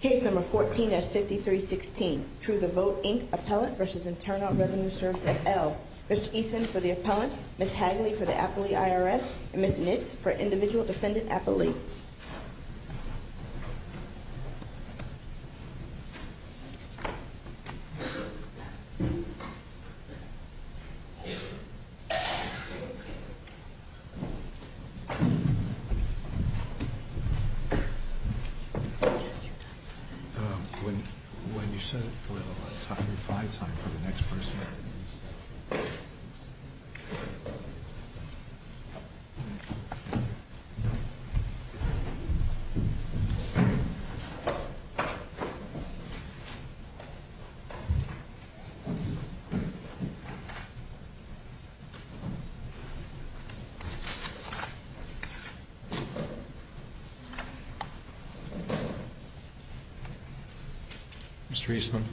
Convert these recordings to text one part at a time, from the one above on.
Case No. 14-5316. True the Vote, Inc. Appellant v. Internal Revenue Service of L. Mr. Eastman for the Appellant, Ms. Hagley for the Appellee IRS, and Ms. Nitz for Individual Defendant Appellee. Judge, your time is up. When you said it, well, it's probably time for the next person. Mr. Eastman.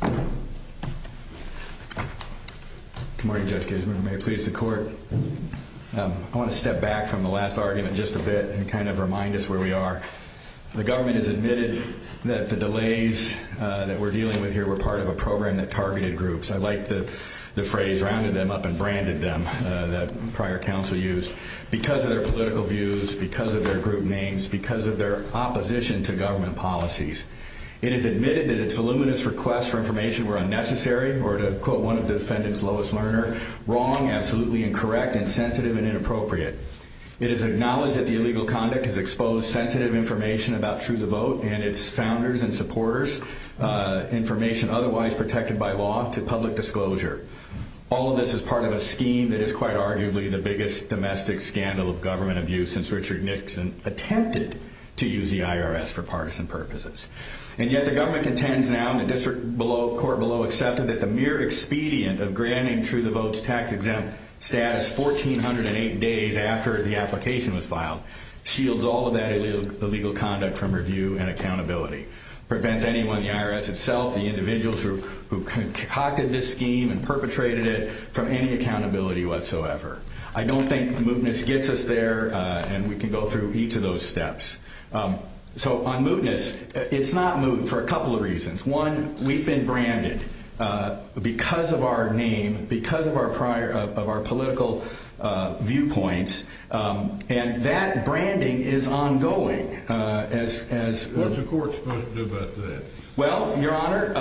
Good morning, Judge Geisman. May it please the Court. I want to step back from the last argument just a bit and kind of remind us where we are. The government has admitted that the delays that we're dealing with here were part of a program that targeted groups. I like the phrase, rounded them up and branded them, that prior counsel used. Because of their political views, because of their group names, because of their opposition to government policies. It has admitted that its voluminous requests for information were unnecessary, or to quote one of the defendants, Lois Lerner, wrong, absolutely incorrect, insensitive, and inappropriate. It has acknowledged that the illegal conduct has exposed sensitive information about True the Vote and its founders and supporters, information otherwise protected by law, to public disclosure. All of this is part of a scheme that is quite arguably the biggest domestic scandal of government abuse since Richard Nixon attempted to use the IRS for partisan purposes. And yet the government contends now, and the District Court below accepted, that the mere expedient of granting True the Vote's tax exempt status 1,408 days after the application was filed shields all of that illegal conduct from review and accountability. Prevents anyone, the IRS itself, the individuals who concocted this scheme and perpetrated it from any accountability whatsoever. I don't think mootness gets us there, and we can go through each of those steps. So on mootness, it's not moot for a couple of reasons. One, we've been branded because of our name, because of our political viewpoints, and that branding is ongoing. What's the court's point about that? Well, Your Honor,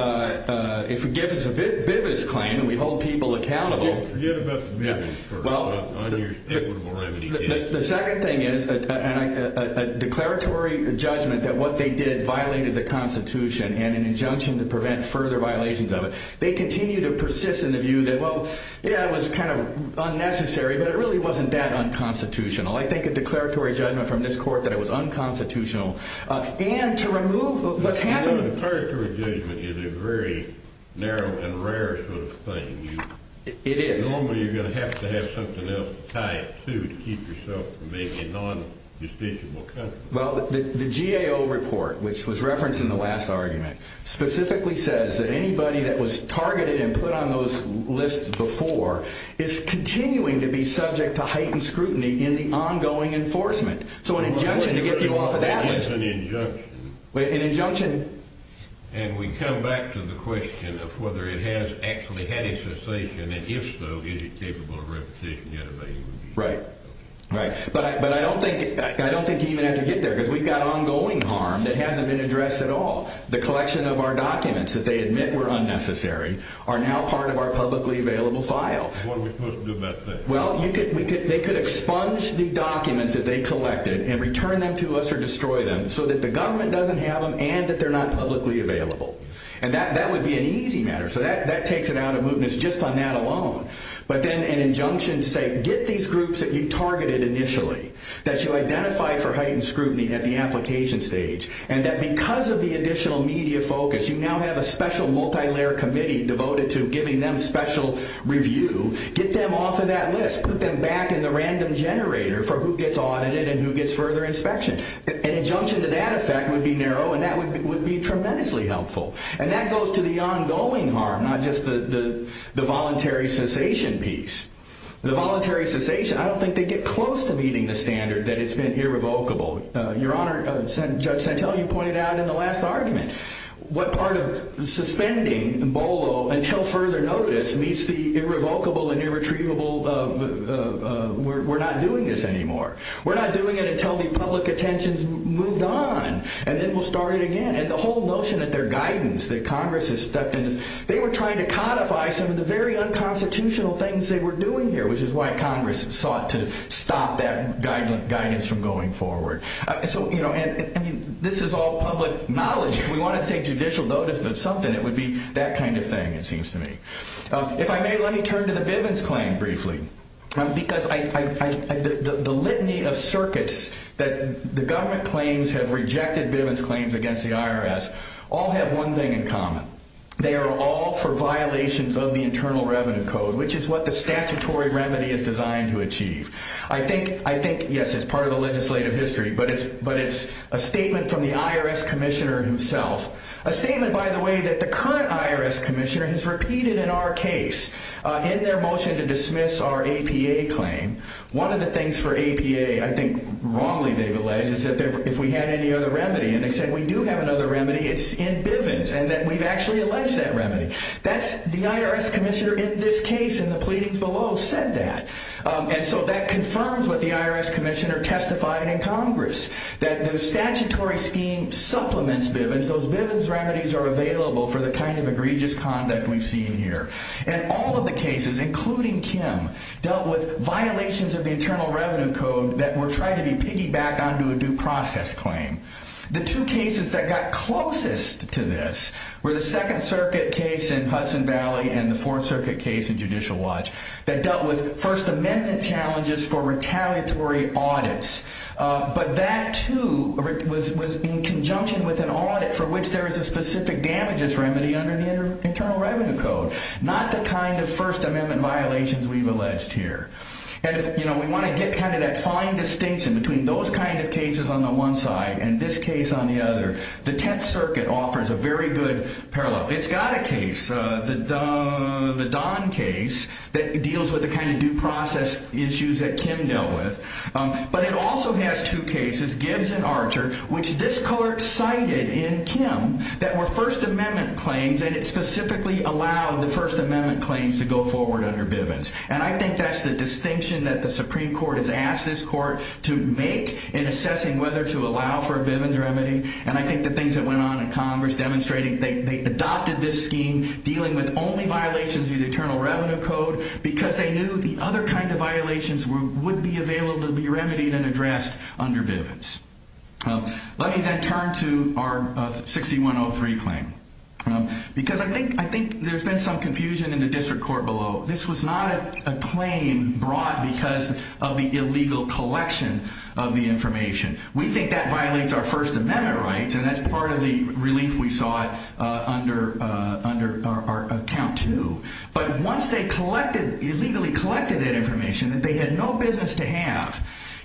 it forgives a bit of this claim, and we hold people accountable. Yeah, forget about the minimums first. The second thing is, a declaratory judgment that what they did violated the Constitution and an injunction to prevent further violations of it. They continue to persist in the view that, well, yeah, it was kind of unnecessary, but it really wasn't that unconstitutional. I think a declaratory judgment from this court that it was unconstitutional. And to remove what's happening... Well, the declaratory judgment is a very narrow and rare sort of thing. It is. Normally, you're going to have to have something else to tie it to to keep yourself from being a non-justiciable country. Well, the GAO report, which was referenced in the last argument, specifically says that anybody that was targeted and put on those lists before is continuing to be subject to heightened scrutiny in the ongoing enforcement. So an injunction to get you off of that list... That's an injunction. An injunction... And we come back to the question of whether it has actually had a cessation, and if so, is it capable of repetition, yet again? Right, right. But I don't think you even have to get there, because we've got ongoing harm that hasn't been addressed at all. The collection of our documents that they admit were unnecessary are now part of our publicly available file. What are we supposed to do about that? Well, they could expunge the documents that they collected and return them to us or destroy them so that the government doesn't have them and that they're not publicly available. And that would be an easy matter. So that takes it out of movement. It's just on that alone. But then an injunction to say, get these groups that you targeted initially, that you identified for heightened scrutiny at the application stage, and that because of the additional media focus, you now have a special multilayer committee devoted to giving them special review. Get them off of that list. Put them back in the random generator for who gets audited and who gets further inspection. An injunction to that effect would be narrow, and that would be tremendously helpful. And that goes to the ongoing harm, not just the voluntary cessation piece. The voluntary cessation, I don't think they get close to meeting the standard that it's been irrevocable. Your Honor, Judge Santel, you pointed out in the last argument what part of suspending BOLO until further notice meets the irrevocable and irretrievable we're not doing this anymore. We're not doing it until the public attention's moved on, and then we'll start it again. And the whole notion that their guidance, that Congress has stepped in, they were trying to codify some of the very unconstitutional things they were doing here, which is why Congress sought to stop that guidance from going forward. And this is all public knowledge. If we want to take judicial notice of something, it would be that kind of thing, it seems to me. If I may, let me turn to the Bivens claim briefly. Because the litany of circuits that the government claims have rejected Bivens claims against the IRS all have one thing in common. They are all for violations of the Internal Revenue Code, which is what the statutory remedy is designed to achieve. I think, yes, it's part of the legislative history, but it's a statement from the IRS Commissioner himself, a statement, by the way, that the current IRS Commissioner has repeated in our case in their motion to dismiss our APA claim. One of the things for APA, I think wrongly they've alleged, is that if we had any other remedy, and they said we do have another remedy, it's in Bivens, and that we've actually alleged that remedy. The IRS Commissioner in this case, in the pleadings below, said that. And so that confirms what the IRS Commissioner testified in Congress, that the statutory scheme supplements Bivens, those Bivens remedies are available for the kind of egregious conduct we've seen here. And all of the cases, including Kim, dealt with violations of the Internal Revenue Code that were tried to be piggybacked onto a due process claim. The two cases that got closest to this were the Second Circuit case in Hudson Valley and the Fourth Circuit case in Judicial Watch that dealt with First Amendment challenges for retaliatory audits. But that, too, was in conjunction with an audit for which there is a specific damages remedy under the Internal Revenue Code, not the kind of First Amendment violations we've alleged here. And, you know, we want to get kind of that fine distinction between those kind of cases on the one side and this case on the other. The Tenth Circuit offers a very good parallel. It's got a case, the Don case, that deals with the kind of due process issues that Kim dealt with. But it also has two cases, Gibbs and Archer, which this court cited in Kim that were First Amendment claims, and it specifically allowed the First Amendment claims to go forward under Bivens. And I think that's the distinction that the Supreme Court has asked this court to make in assessing whether to allow for a Bivens remedy. And I think the things that went on in Congress demonstrating they adopted this scheme dealing with only violations of the Internal Revenue Code because they knew the other kind of violations would be available to be remedied and addressed under Bivens. Let me then turn to our 6103 claim. Because I think there's been some confusion in the district court below. This was not a claim brought because of the illegal collection of the information. We think that violates our First Amendment rights, and that's part of the relief we saw under our Account 2. But once they illegally collected that information, they had no business to have.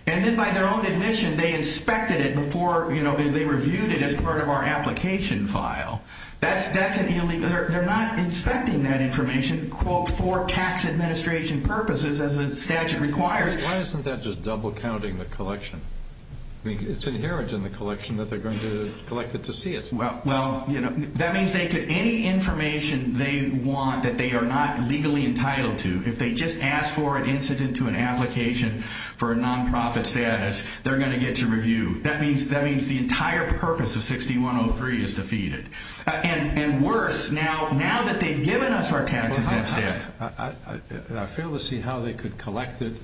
And then by their own admission, they inspected it before they reviewed it as part of our application file. They're not inspecting that information, quote, for tax administration purposes as the statute requires. Why isn't that just double-counting the collection? I mean, it's inherent in the collection that they're going to collect it to see it. Well, that means any information they want that they are not legally entitled to, if they just ask for an incident to an application for a nonprofit status, they're going to get to review. That means the entire purpose of 6103 is defeated. And worse, now that they've given us our tax intent, I fail to see how they could collect it.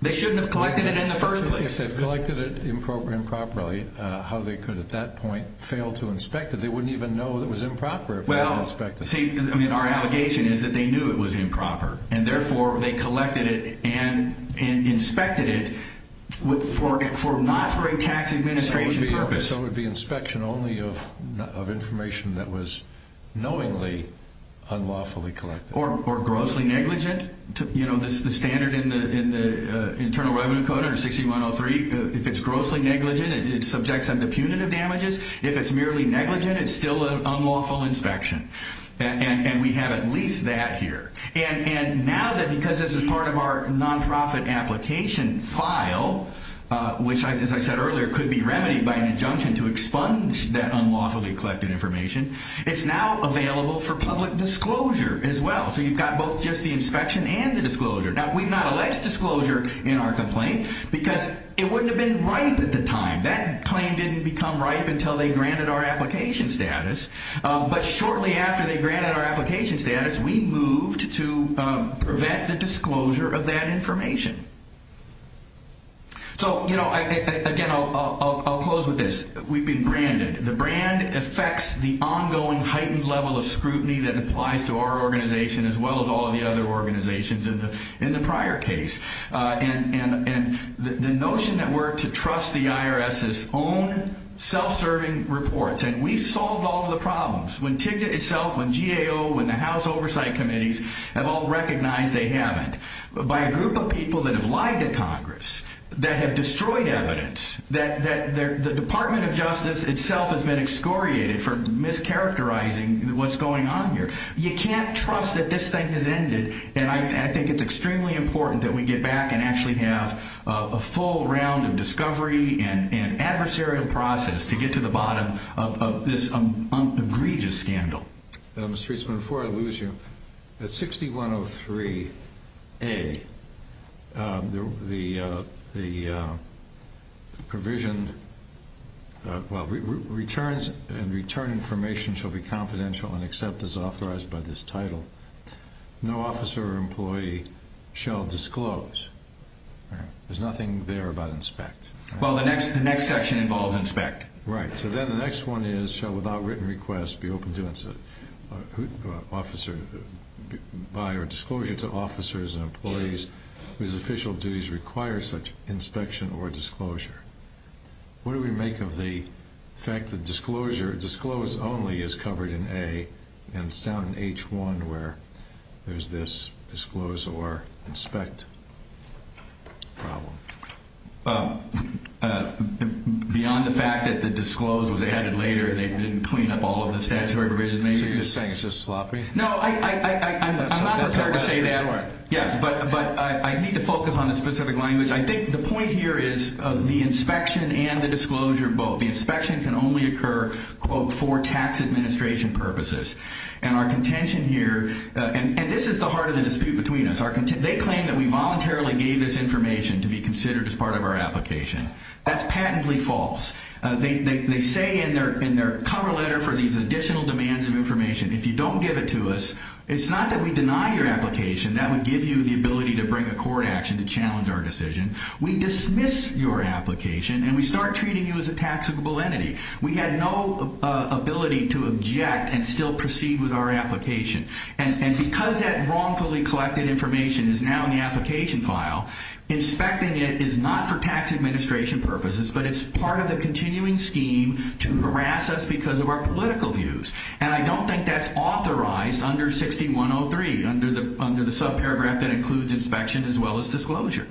They shouldn't have collected it in the first place. If they've collected it improperly, how they could at that point fail to inspect it. They wouldn't even know it was improper if they hadn't inspected it. Well, see, I mean, our allegation is that they knew it was improper, and therefore they collected it and inspected it not for a tax administration purpose. So it would be inspection only of information that was knowingly unlawfully collected. Or grossly negligent. You know, the standard in the Internal Revenue Code under 6103, if it's grossly negligent, it subjects them to punitive damages. If it's merely negligent, it's still an unlawful inspection. And we have at least that here. And now that because this is part of our nonprofit application file, which, as I said earlier, could be remedied by an injunction to expunge that unlawfully collected information, it's now available for public disclosure as well. So you've got both just the inspection and the disclosure. Now, we've not alleged disclosure in our complaint because it wouldn't have been ripe at the time. That claim didn't become ripe until they granted our application status. But shortly after they granted our application status, we moved to prevent the disclosure of that information. So, you know, again, I'll close with this. We've been branded. The brand affects the ongoing heightened level of scrutiny that applies to our organization as well as all of the other organizations in the prior case. And the notion that we're to trust the IRS's own self-serving reports, and we've solved all of the problems. When TIGDA itself, when GAO, when the House Oversight Committees have all recognized they haven't, by a group of people that have lied to Congress, that have destroyed evidence, that the Department of Justice itself has been excoriated for mischaracterizing what's going on here, you can't trust that this thing has ended. And I think it's extremely important that we get back and actually have a full round of discovery and adversarial process to get to the bottom of this egregious scandal. Mr. Eastman, before I lose you, at 6103A, the provision, well, returns and return information shall be confidential and accept as authorized by this title. No officer or employee shall disclose. There's nothing there about inspect. Well, the next section involves inspect. Right. So then the next one is, shall without written request be open to officer, by or disclosure to officers and employees whose official duties require such inspection or disclosure. What do we make of the fact that disclosure, disclose only is covered in A, and it's down in H1 where there's this disclose or inspect problem? Beyond the fact that the disclose was added later and they didn't clean up all of the statutory provisions? So you're saying it's just sloppy? No, I'm not prepared to say that. Yeah, but I need to focus on a specific language. I think the point here is the inspection and the disclosure both. The inspection can only occur, quote, for tax administration purposes. And our contention here, and this is the heart of the dispute between us, they claim that we voluntarily gave this information to be considered as part of our application. That's patently false. They say in their cover letter for these additional demands of information, if you don't give it to us, it's not that we deny your application, that would give you the ability to bring a court action to challenge our decision. We dismiss your application and we start treating you as a taxable entity. We had no ability to object and still proceed with our application. And because that wrongfully collected information is now in the application file, inspecting it is not for tax administration purposes, but it's part of the continuing scheme to harass us because of our political views. And I don't think that's authorized under 6103, under the subparagraph that includes inspection as well as disclosure.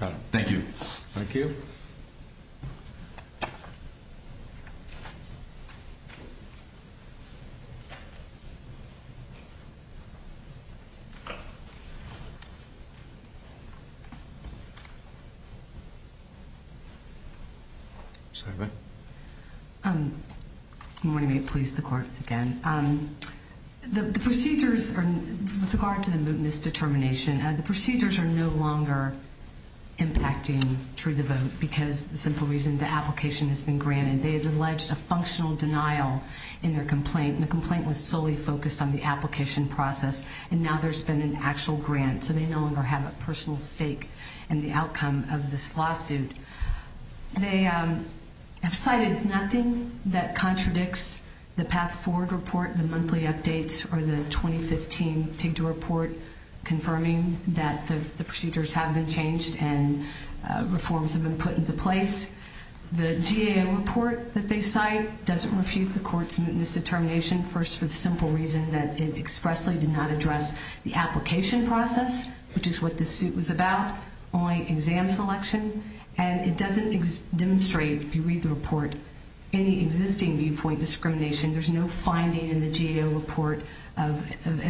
Got it. Thank you. Thank you. Sorry, go ahead. I want to please the court again. The procedures are, with regard to the misdetermination, the procedures are no longer impacting True the Vote because the simple reason, the application has been granted. They have alleged a functional denial in their complaint, and the complaint was solely focused on the application process, and now there's been an actual grant, so they no longer have a personal stake in the outcome of this lawsuit. They have cited nothing that contradicts the Path Forward report, the monthly updates, or the 2015 TIGDA report, confirming that the procedures have been changed and reforms have been put into place. The GAO report that they cite doesn't refute the court's misdetermination, first for the simple reason that it expressly did not address the application process, which is what this suit was about, only exam selection. And it doesn't demonstrate, if you read the report, any existing viewpoint discrimination. There's no finding in the GAO report of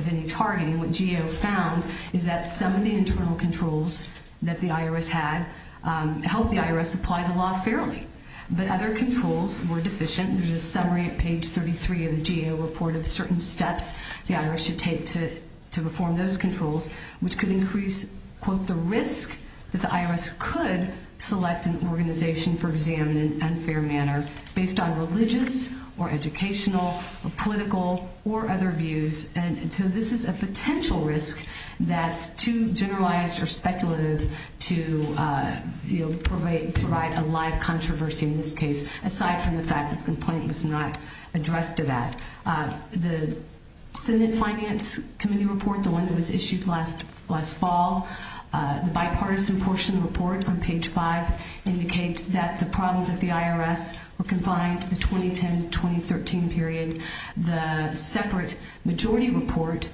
any targeting. What GAO found is that some of the internal controls that the IRS had helped the IRS apply the law fairly, but other controls were deficient. There's a summary at page 33 of the GAO report of certain steps the IRS should take to reform those controls, which could increase, quote, the risk that the IRS could select an organization for exam in an unfair manner, based on religious or educational or political or other views. And so this is a potential risk that's too generalized or speculative to provide a live controversy in this case, aside from the fact that the complaint was not addressed to that. The Senate Finance Committee report, the one that was issued last fall, the bipartisan portion of the report on page 5 indicates that the problems at the IRS were confined to the 2010-2013 period. The separate majority report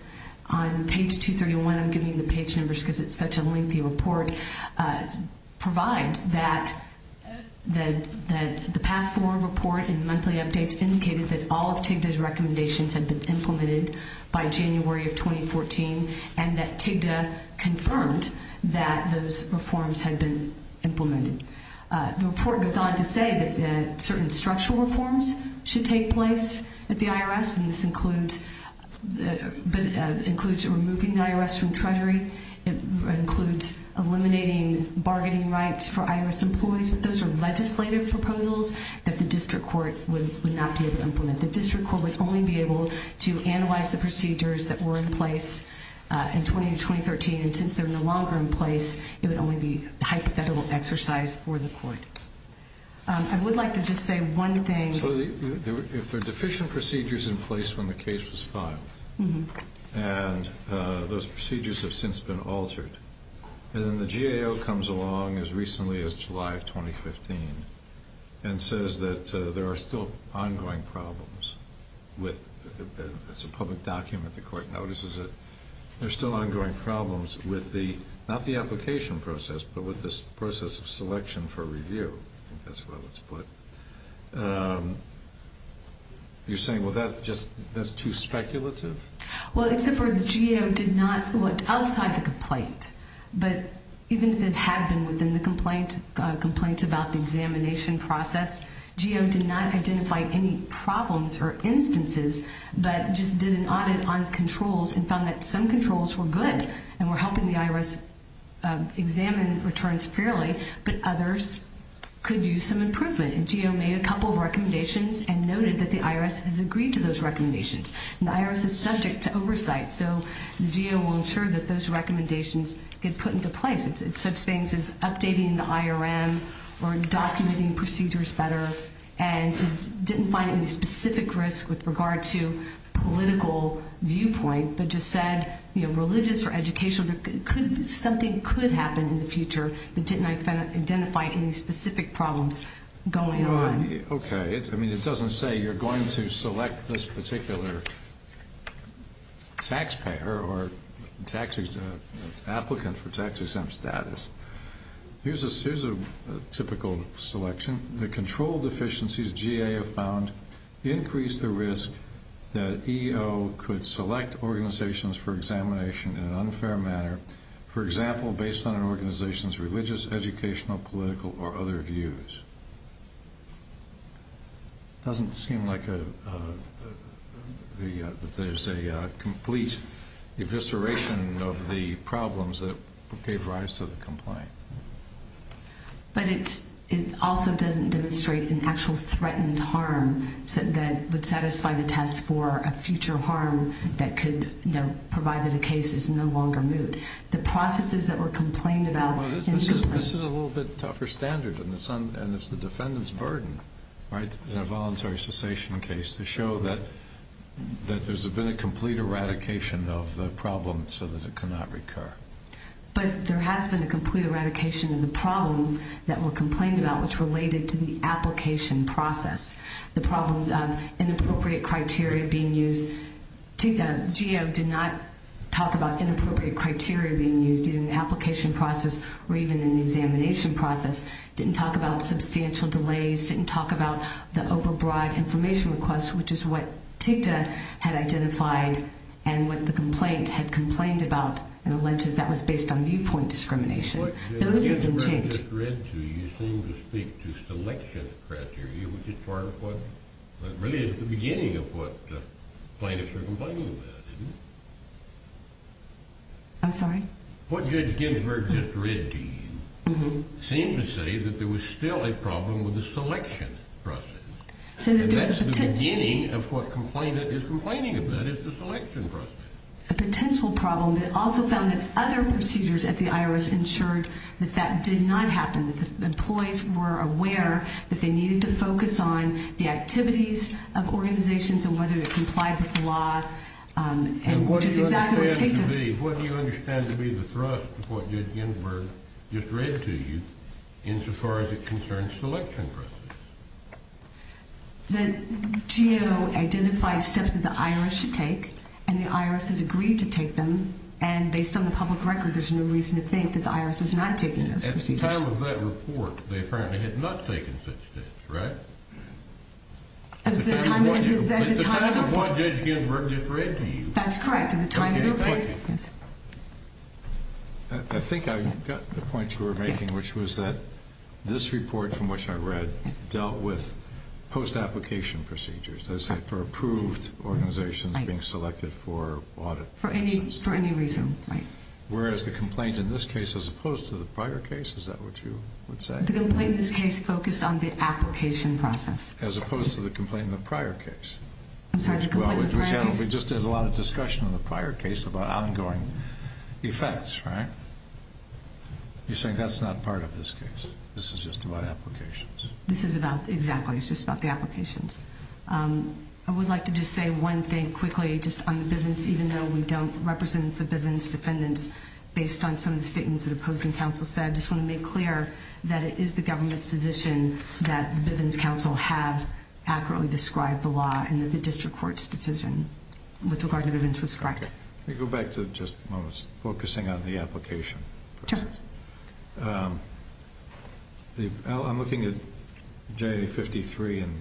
on page 231, I'm giving you the page numbers because it's such a lengthy report, provides that the path forward report and monthly updates indicated that all of TIGDA's recommendations had been implemented by January of 2014 and that TIGDA confirmed that those reforms had been implemented. The report goes on to say that certain structural reforms should take place at the IRS, and this includes removing the IRS from Treasury. It includes eliminating bargaining rights for IRS employees, but those are legislative proposals that the district court would not be able to implement. The district court would only be able to analyze the procedures that were in place in 2010-2013, and since they're no longer in place, it would only be hypothetical exercise for the court. I would like to just say one thing. So if there are deficient procedures in place when the case was filed, and those procedures have since been altered, and then the GAO comes along as recently as July of 2015 and says that there are still ongoing problems with, it's a public document, the court notices it, there are still ongoing problems with the, not the application process, but with this process of selection for review, I think that's what it's put. You're saying, well, that's just too speculative? Well, except for the GAO did not, well, it's outside the complaint, but even if it had been within the complaint about the examination process, GAO did not identify any problems or instances, but just did an audit on controls and found that some controls were good and were helping the IRS examine returns fairly, but others could use some improvement. And GAO made a couple of recommendations and noted that the IRS has agreed to those recommendations. And the IRS is subject to oversight, so the GAO will ensure that those recommendations get put into place. It's such things as updating the IRM or documenting procedures better, and it didn't find any specific risk with regard to political viewpoint, but just said religious or educational, something could happen in the future that didn't identify any specific problems going on. Okay. I mean, it doesn't say you're going to select this particular taxpayer or applicant for tax exempt status. Here's a typical selection. The control deficiencies GAO found increased the risk that EO could select organizations for examination in an unfair manner, for example, based on an organization's religious, educational, political, or other views. It doesn't seem like there's a complete evisceration of the problems that gave rise to the complaint. But it also doesn't demonstrate an actual threatened harm that would satisfy the test for a future harm that could provide that a case is no longer moot. The processes that were complained about in the complaint. This is a little bit tougher standard, and it's the defendant's burden, right, in a voluntary cessation case to show that there's been a complete eradication of the problem so that it cannot recur. But there has been a complete eradication of the problems that were complained about, which related to the application process, the problems of inappropriate criteria being used. TIGTA, GAO did not talk about inappropriate criteria being used in the application process or even in the examination process, didn't talk about substantial delays, didn't talk about the overbroad information request, which is what TIGTA had identified and what the complaint had complained about and alleged that was based on viewpoint discrimination. Those have been changed. What Judge Ginsburg just read to you seemed to speak to selection criteria, which is part of what really is the beginning of what plaintiffs are complaining about, isn't it? I'm sorry? What Judge Ginsburg just read to you seemed to say that there was still a problem with the selection process. That's the beginning of what the complainant is complaining about is the selection process. A potential problem that also found that other procedures at the IRS ensured that that did not happen, that the employees were aware that they needed to focus on the activities of organizations and whether they complied with the law. And what do you understand to be the thrust of what Judge Ginsburg just read to you insofar as it concerns selection process? The GEO identified steps that the IRS should take, and the IRS has agreed to take them. And based on the public record, there's no reason to think that the IRS is not taking those procedures. At the time of that report, they apparently had not taken such steps, right? At the time of what? At the time of what Judge Ginsburg just read to you. That's correct. At the time of the report. Okay, thank you. I think I got the point you were making, which was that this report from which I read dealt with post-application procedures for approved organizations being selected for audit. For any reason, right. Whereas the complaint in this case, as opposed to the prior case, is that what you would say? The complaint in this case focused on the application process. As opposed to the complaint in the prior case. I'm sorry, the complaint in the prior case. The complaint in the prior case is about ongoing effects, right? You're saying that's not part of this case? This is just about applications? This is about, exactly, it's just about the applications. I would like to just say one thing quickly, just on the Bivens, even though we don't represent the Bivens defendants, based on some of the statements that opposing counsel said, I just want to make clear that it is the government's position that the Bivens counsel have accurately described the law in the district court's decision with regard to Bivens was correct. Let me go back to just a moment, focusing on the application. Sure. I'm looking at J53 and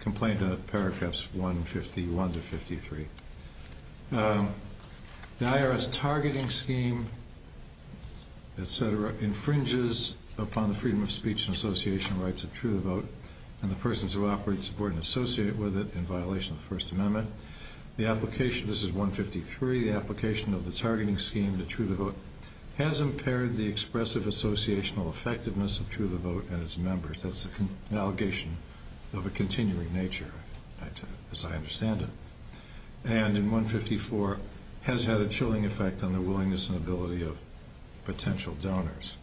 complaint on paragraphs 151 to 53. The IRS targeting scheme, et cetera, infringes upon the freedom of speech and association rights of True the Vote and the persons who operate, support, and associate with it in violation of the First Amendment. The application, this is 153, the application of the targeting scheme to True the Vote, has impaired the expressive associational effectiveness of True the Vote and its members. That's an allegation of a continuing nature, as I understand it. And in 154, has had a chilling effect on the willingness and ability of potential donors.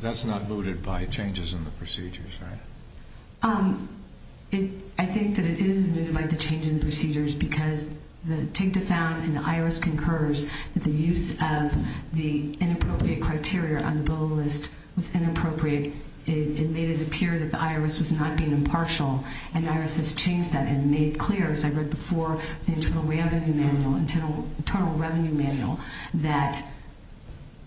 That's not mooted by changes in the procedures, right? I think that it is mooted by the change in procedures because the TIGTA found, and the IRS concurs, that the use of the inappropriate criteria on the bill list was inappropriate. It made it appear that the IRS was not being impartial, and the IRS has changed that and made clear, as I read before, the Internal Revenue Manual, that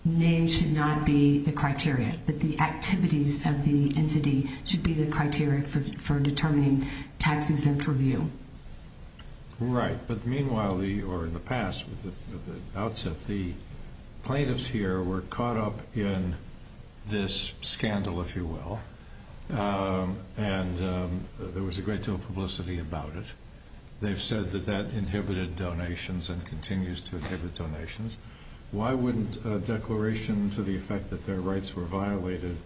names should not be the criteria, that the activities of the entity should be the criteria for determining tax-exempt review. Right, but meanwhile, or in the past, at the outset, the plaintiffs here were caught up in this scandal, if you will, and there was a great deal of publicity about it. They've said that that inhibited donations and continues to inhibit donations. Why wouldn't a declaration to the effect that their rights were violated,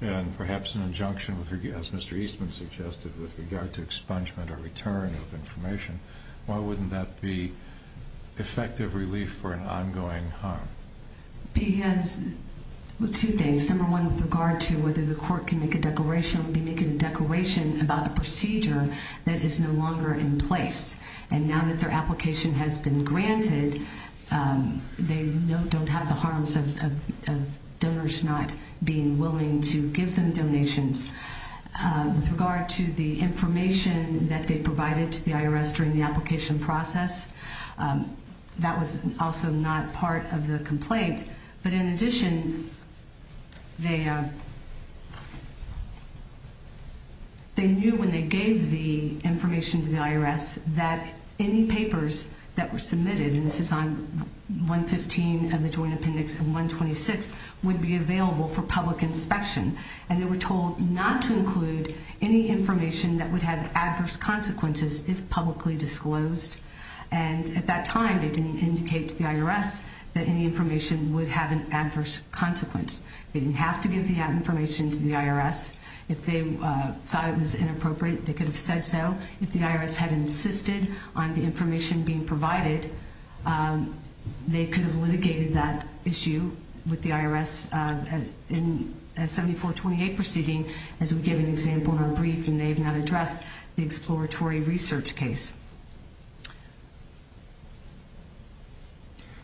and perhaps an injunction, as Mr. Eastman suggested, with regard to expungement or return of information, why wouldn't that be effective relief for an ongoing harm? Because, well, two things. Number one, with regard to whether the court can make a declaration, would be making a declaration about a procedure that is no longer in place. And now that their application has been granted, they don't have the harms of donors not being willing to give them donations. With regard to the information that they provided to the IRS during the application process, that was also not part of the complaint. But in addition, they knew when they gave the information to the IRS that any papers that were submitted, and this is on 115 of the Joint Appendix and 126, would be available for public inspection. And they were told not to include any information that would have adverse consequences if publicly disclosed. And at that time, they didn't indicate to the IRS that any information would have an adverse consequence. They didn't have to give the information to the IRS. If they thought it was inappropriate, they could have said so. If the IRS had insisted on the information being provided, they could have litigated that issue with the IRS in a 7428 proceeding, as we gave an example in our brief, and they have not addressed the exploratory research case.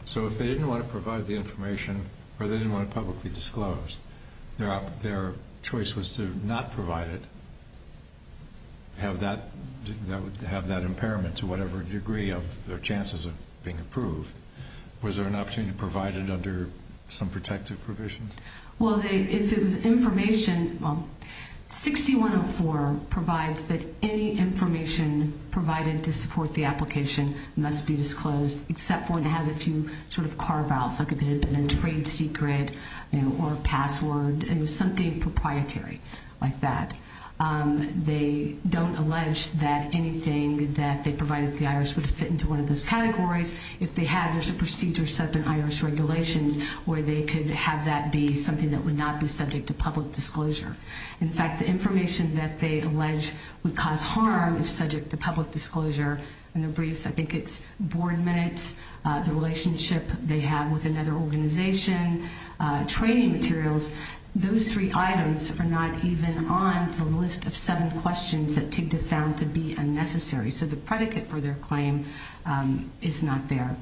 So if they didn't want to provide the information or they didn't want it publicly disclosed, their choice was to not provide it, have that impairment to whatever degree of their chances of being approved. Was there an opportunity to provide it under some protective provisions? Well, if it was information, 6104 provides that any information provided to support the application must be disclosed, except for it has a few sort of carve-outs, like if it had been a trade secret or a password. It was something proprietary like that. They don't allege that anything that they provided to the IRS would fit into one of those categories. If they had, there's a procedure set up in IRS regulations where they could have that be something that would not be subject to public disclosure. In fact, the information that they allege would cause harm if subject to public disclosure in the briefs, I think it's board minutes, the relationship they have with another organization, training materials, those three items are not even on the list of seven questions that TIGTA found to be unnecessary. So the predicate for their claim is not there.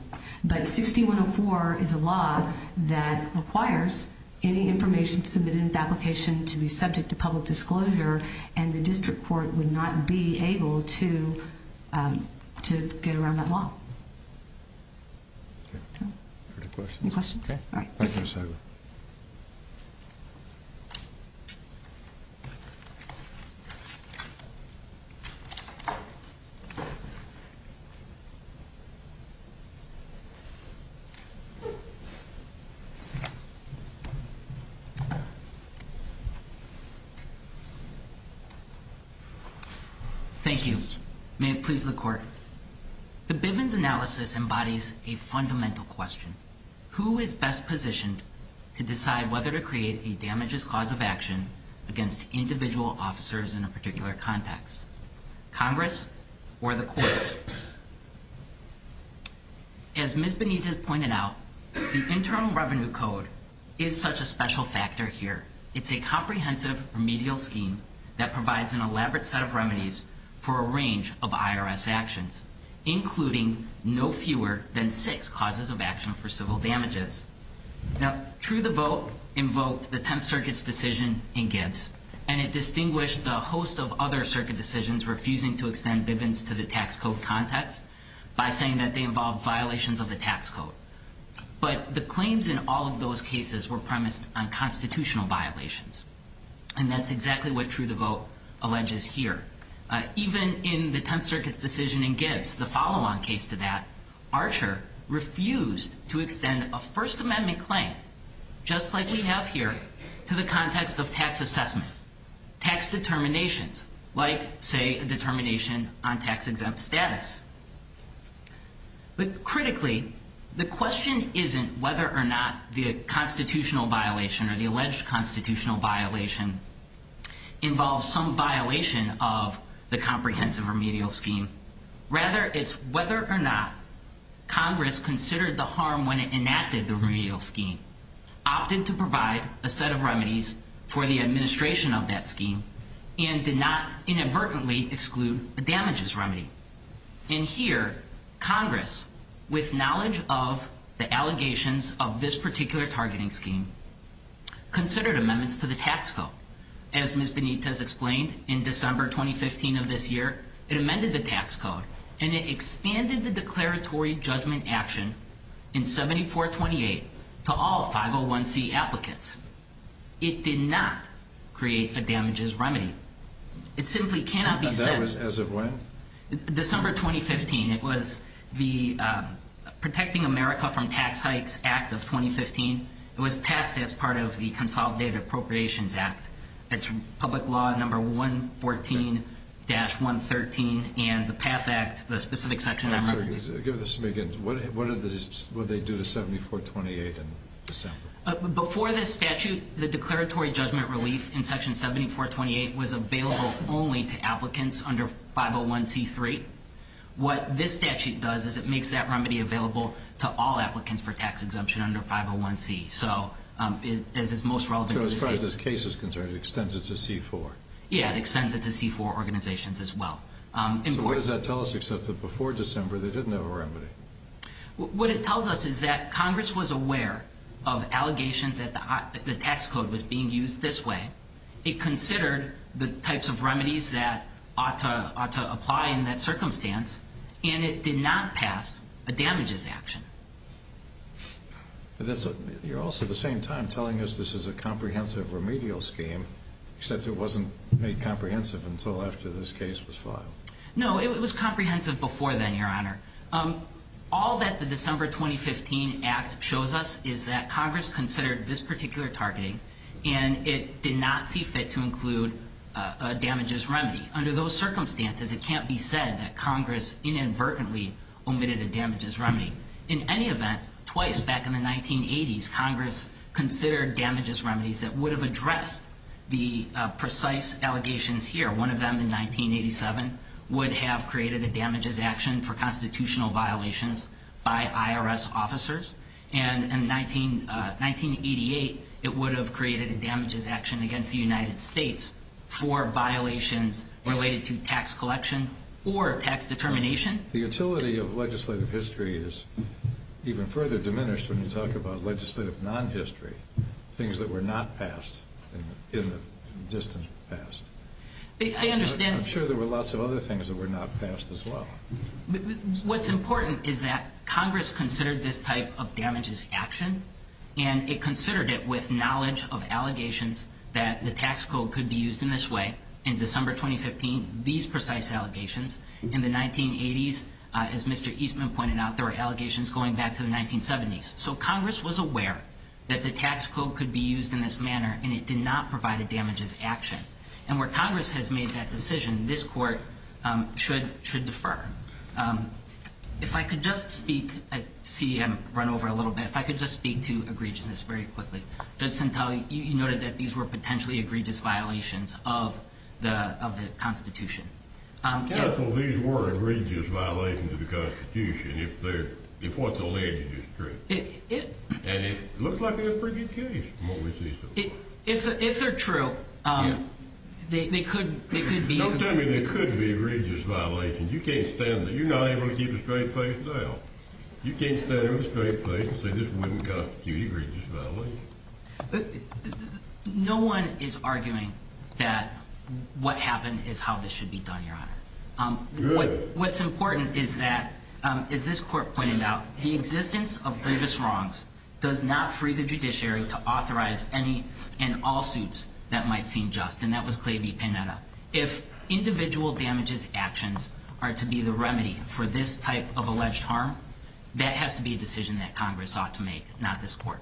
But 6104 is a law that requires any information submitted in the application to be subject to public disclosure, and the district court would not be able to get around that law. Any questions? Thank you. May it please the court. The Bivens analysis embodies a fundamental question. Who is best positioned to decide whether to create a damages cause of action against individual officers in a particular context? Congress or the courts? As Ms. Benitez pointed out, the Internal Revenue Code is such a special factor here. It's a comprehensive remedial scheme that provides an elaborate set of remedies for a range of IRS actions, including no fewer than six causes of action for civil damages. Now, true the vote invoked the Tenth Circuit's decision in Gibbs, and it distinguished the host of other circuit decisions refusing to extend Bivens to the tax code context by saying that they involved violations of the tax code. But the claims in all of those cases were premised on constitutional violations, and that's exactly what true the vote alleges here. Even in the Tenth Circuit's decision in Gibbs, the follow-on case to that, Archer refused to extend a First Amendment claim, just like we have here, to the context of tax assessment, tax determinations, like, say, a determination on tax-exempt status. But critically, the question isn't whether or not the constitutional violation or the alleged constitutional violation involves some violation of the comprehensive remedial scheme. Rather, it's whether or not Congress considered the harm when it enacted the remedial scheme, opted to provide a set of remedies for the administration of that scheme, and did not inadvertently exclude a damages remedy. And here, Congress, with knowledge of the allegations of this particular targeting scheme, considered amendments to the tax code. As Ms. Benitez explained, in December 2015 of this year, it amended the tax code, and it expanded the declaratory judgment action in 7428 to all 501c applicants. It did not create a damages remedy. It simply cannot be said... As of when? December 2015. It was the Protecting America from Tax Hikes Act of 2015. It was passed as part of the Consolidated Appropriations Act. It's public law number 114-113, and the PATH Act, the specific section on emergency... Give this to me again. What did they do to 7428 in December? Before this statute, the declaratory judgment relief in section 7428 was available only to applicants under 501c3. What this statute does is it makes that remedy available to all applicants for tax exemption under 501c. So, as it's most relevant... So as far as this case is concerned, it extends it to C4. Yeah, it extends it to C4 organizations as well. So what does that tell us except that before December, they didn't have a remedy? What it tells us is that Congress was aware of allegations that the tax code was being used this way. It considered the types of remedies that ought to apply in that circumstance, and it did not pass a damages action. You're also at the same time telling us this is a comprehensive remedial scheme, except it wasn't made comprehensive until after this case was filed. No, it was comprehensive before then, Your Honor. All that the December 2015 Act shows us is that Congress considered this particular targeting, and it did not see fit to include a damages remedy. Under those circumstances, it can't be said that Congress inadvertently omitted a damages remedy. In any event, twice back in the 1980s, Congress considered damages remedies that would have addressed the precise allegations here. One of them in 1987 would have created a damages action for constitutional violations by IRS officers. And in 1988, it would have created a damages action against the United States for violations related to tax collection or tax determination. The utility of legislative history is even further diminished when you talk about legislative non-history, things that were not passed in the distant past. I'm sure there were lots of other things that were not passed as well. What's important is that Congress considered this type of damages action, and it considered it with knowledge of allegations that the tax code could be used in this way. In December 2015, these precise allegations. In the 1980s, as Mr. Eastman pointed out, there were allegations going back to the 1970s. So Congress was aware that the tax code could be used in this manner, and it did not provide a damages action. And where Congress has made that decision, this court should defer. If I could just speak, I see I'm run over a little bit. If I could just speak to egregiousness very quickly. Judge Centelli, you noted that these were potentially egregious violations of the Constitution. Counsel, these were egregious violations of the Constitution if what's alleged is true. And it looks like they're a pretty good case from what we see so far. If they're true, they could be. Don't tell me they could be egregious violations. You can't stand that. You're not able to keep a straight face now. You can't stand there with a straight face and say this wouldn't constitute egregious violations. No one is arguing that what happened is how this should be done, Your Honor. Good. What's important is that, as this court pointed out, the existence of grievous wrongs does not free the judiciary to authorize any and all suits that might seem just. And that was Clavey-Panetta. If individual damages actions are to be the remedy for this type of alleged harm, that has to be a decision that Congress ought to make, not this court.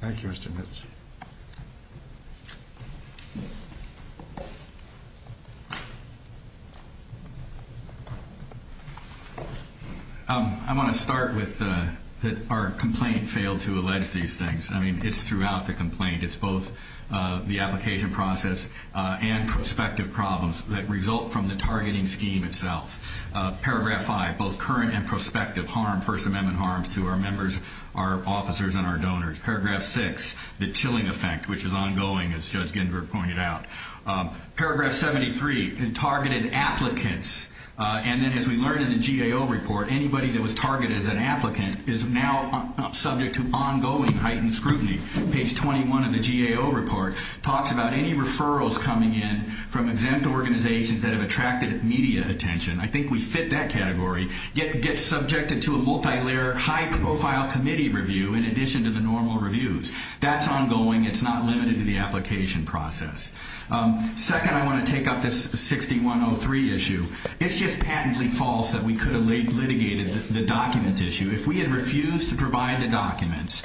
Thank you, Mr. Mitz. I want to start with that our complaint failed to allege these things. I mean, it's throughout the complaint. It's both the application process and prospective problems that result from the targeting scheme itself. Paragraph 5, both current and prospective harm, First Amendment harms to our members, our officers, and our donors. Paragraph 6, the chilling effect, which is ongoing, as Judge Ginsburg pointed out. Paragraph 73, targeted applicants. And then, as we learned in the GAO report, anybody that was targeted as an applicant is now subject to ongoing heightened scrutiny. Page 21 of the GAO report talks about any referrals coming in from exempt organizations that have attracted media attention. I think we fit that category. Get subjected to a multilayer, high-profile committee review in addition to the normal reviews. That's ongoing. It's not limited to the application process. Second, I want to take up this 6103 issue. It's just patently false that we could have litigated the documents issue. If we had refused to provide the documents,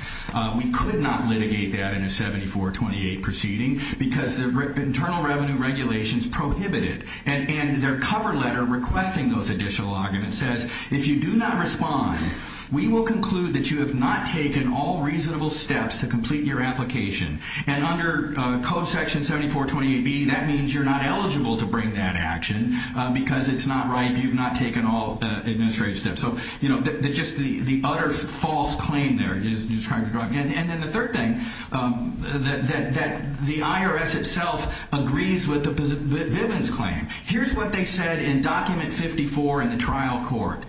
we could not litigate that in a 7428 proceeding because the internal revenue regulations prohibit it. And their cover letter requesting those additional arguments says, if you do not respond, we will conclude that you have not taken all reasonable steps to complete your application. And under Code Section 7428B, that means you're not eligible to bring that action because it's not right. You've not taken all administrative steps. So, you know, just the utter false claim there. And then the third thing, that the IRS itself agrees with the Bivens claim. Here's what they said in Document 54 in the trial court.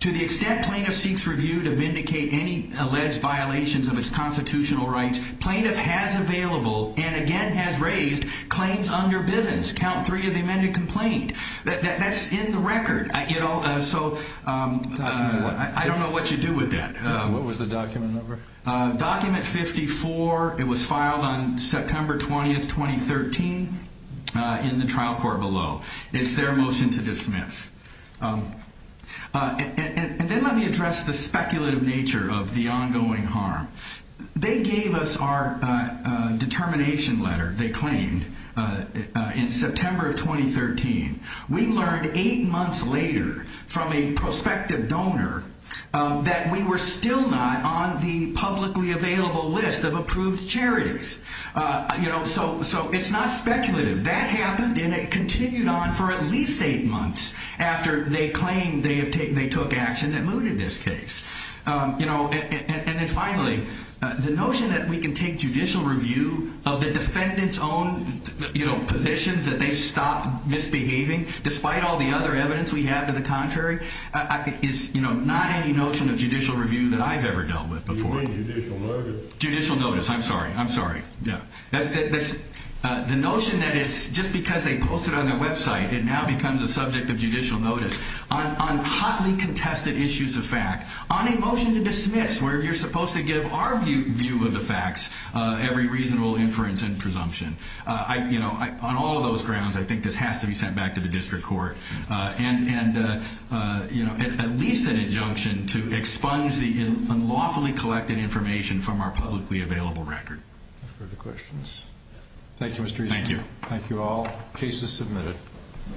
To the extent plaintiff seeks review to vindicate any alleged violations of its constitutional rights, plaintiff has available and, again, has raised claims under Bivens. Count three of the amended complaint. That's in the record. You know, so I don't know what you do with that. What was the document number? Document 54. It was filed on September 20th, 2013 in the trial court below. It's their motion to dismiss. And then let me address the speculative nature of the ongoing harm. They gave us our determination letter, they claimed, in September of 2013. We learned eight months later from a prospective donor that we were still not on the publicly available list of approved charities. You know, so it's not speculative. That happened and it continued on for at least eight months after they claimed they took action that mooted this case. And then finally, the notion that we can take judicial review of the defendant's own positions, that they stopped misbehaving, despite all the other evidence we have to the contrary, is not any notion of judicial review that I've ever dealt with before. You mean judicial notice? Judicial notice. I'm sorry. I'm sorry. Yeah. The notion that it's just because they posted it on their website, it now becomes a subject of judicial notice on hotly contested issues of fact, on a motion to dismiss where you're supposed to give our view of the facts every reasonable inference and presumption. You know, on all those grounds, I think this has to be sent back to the district court and, you know, at least an injunction to expunge the unlawfully collected information from our publicly available record. Further questions? Thank you, Mr. Eason. Thank you. Thank you all. Case is submitted.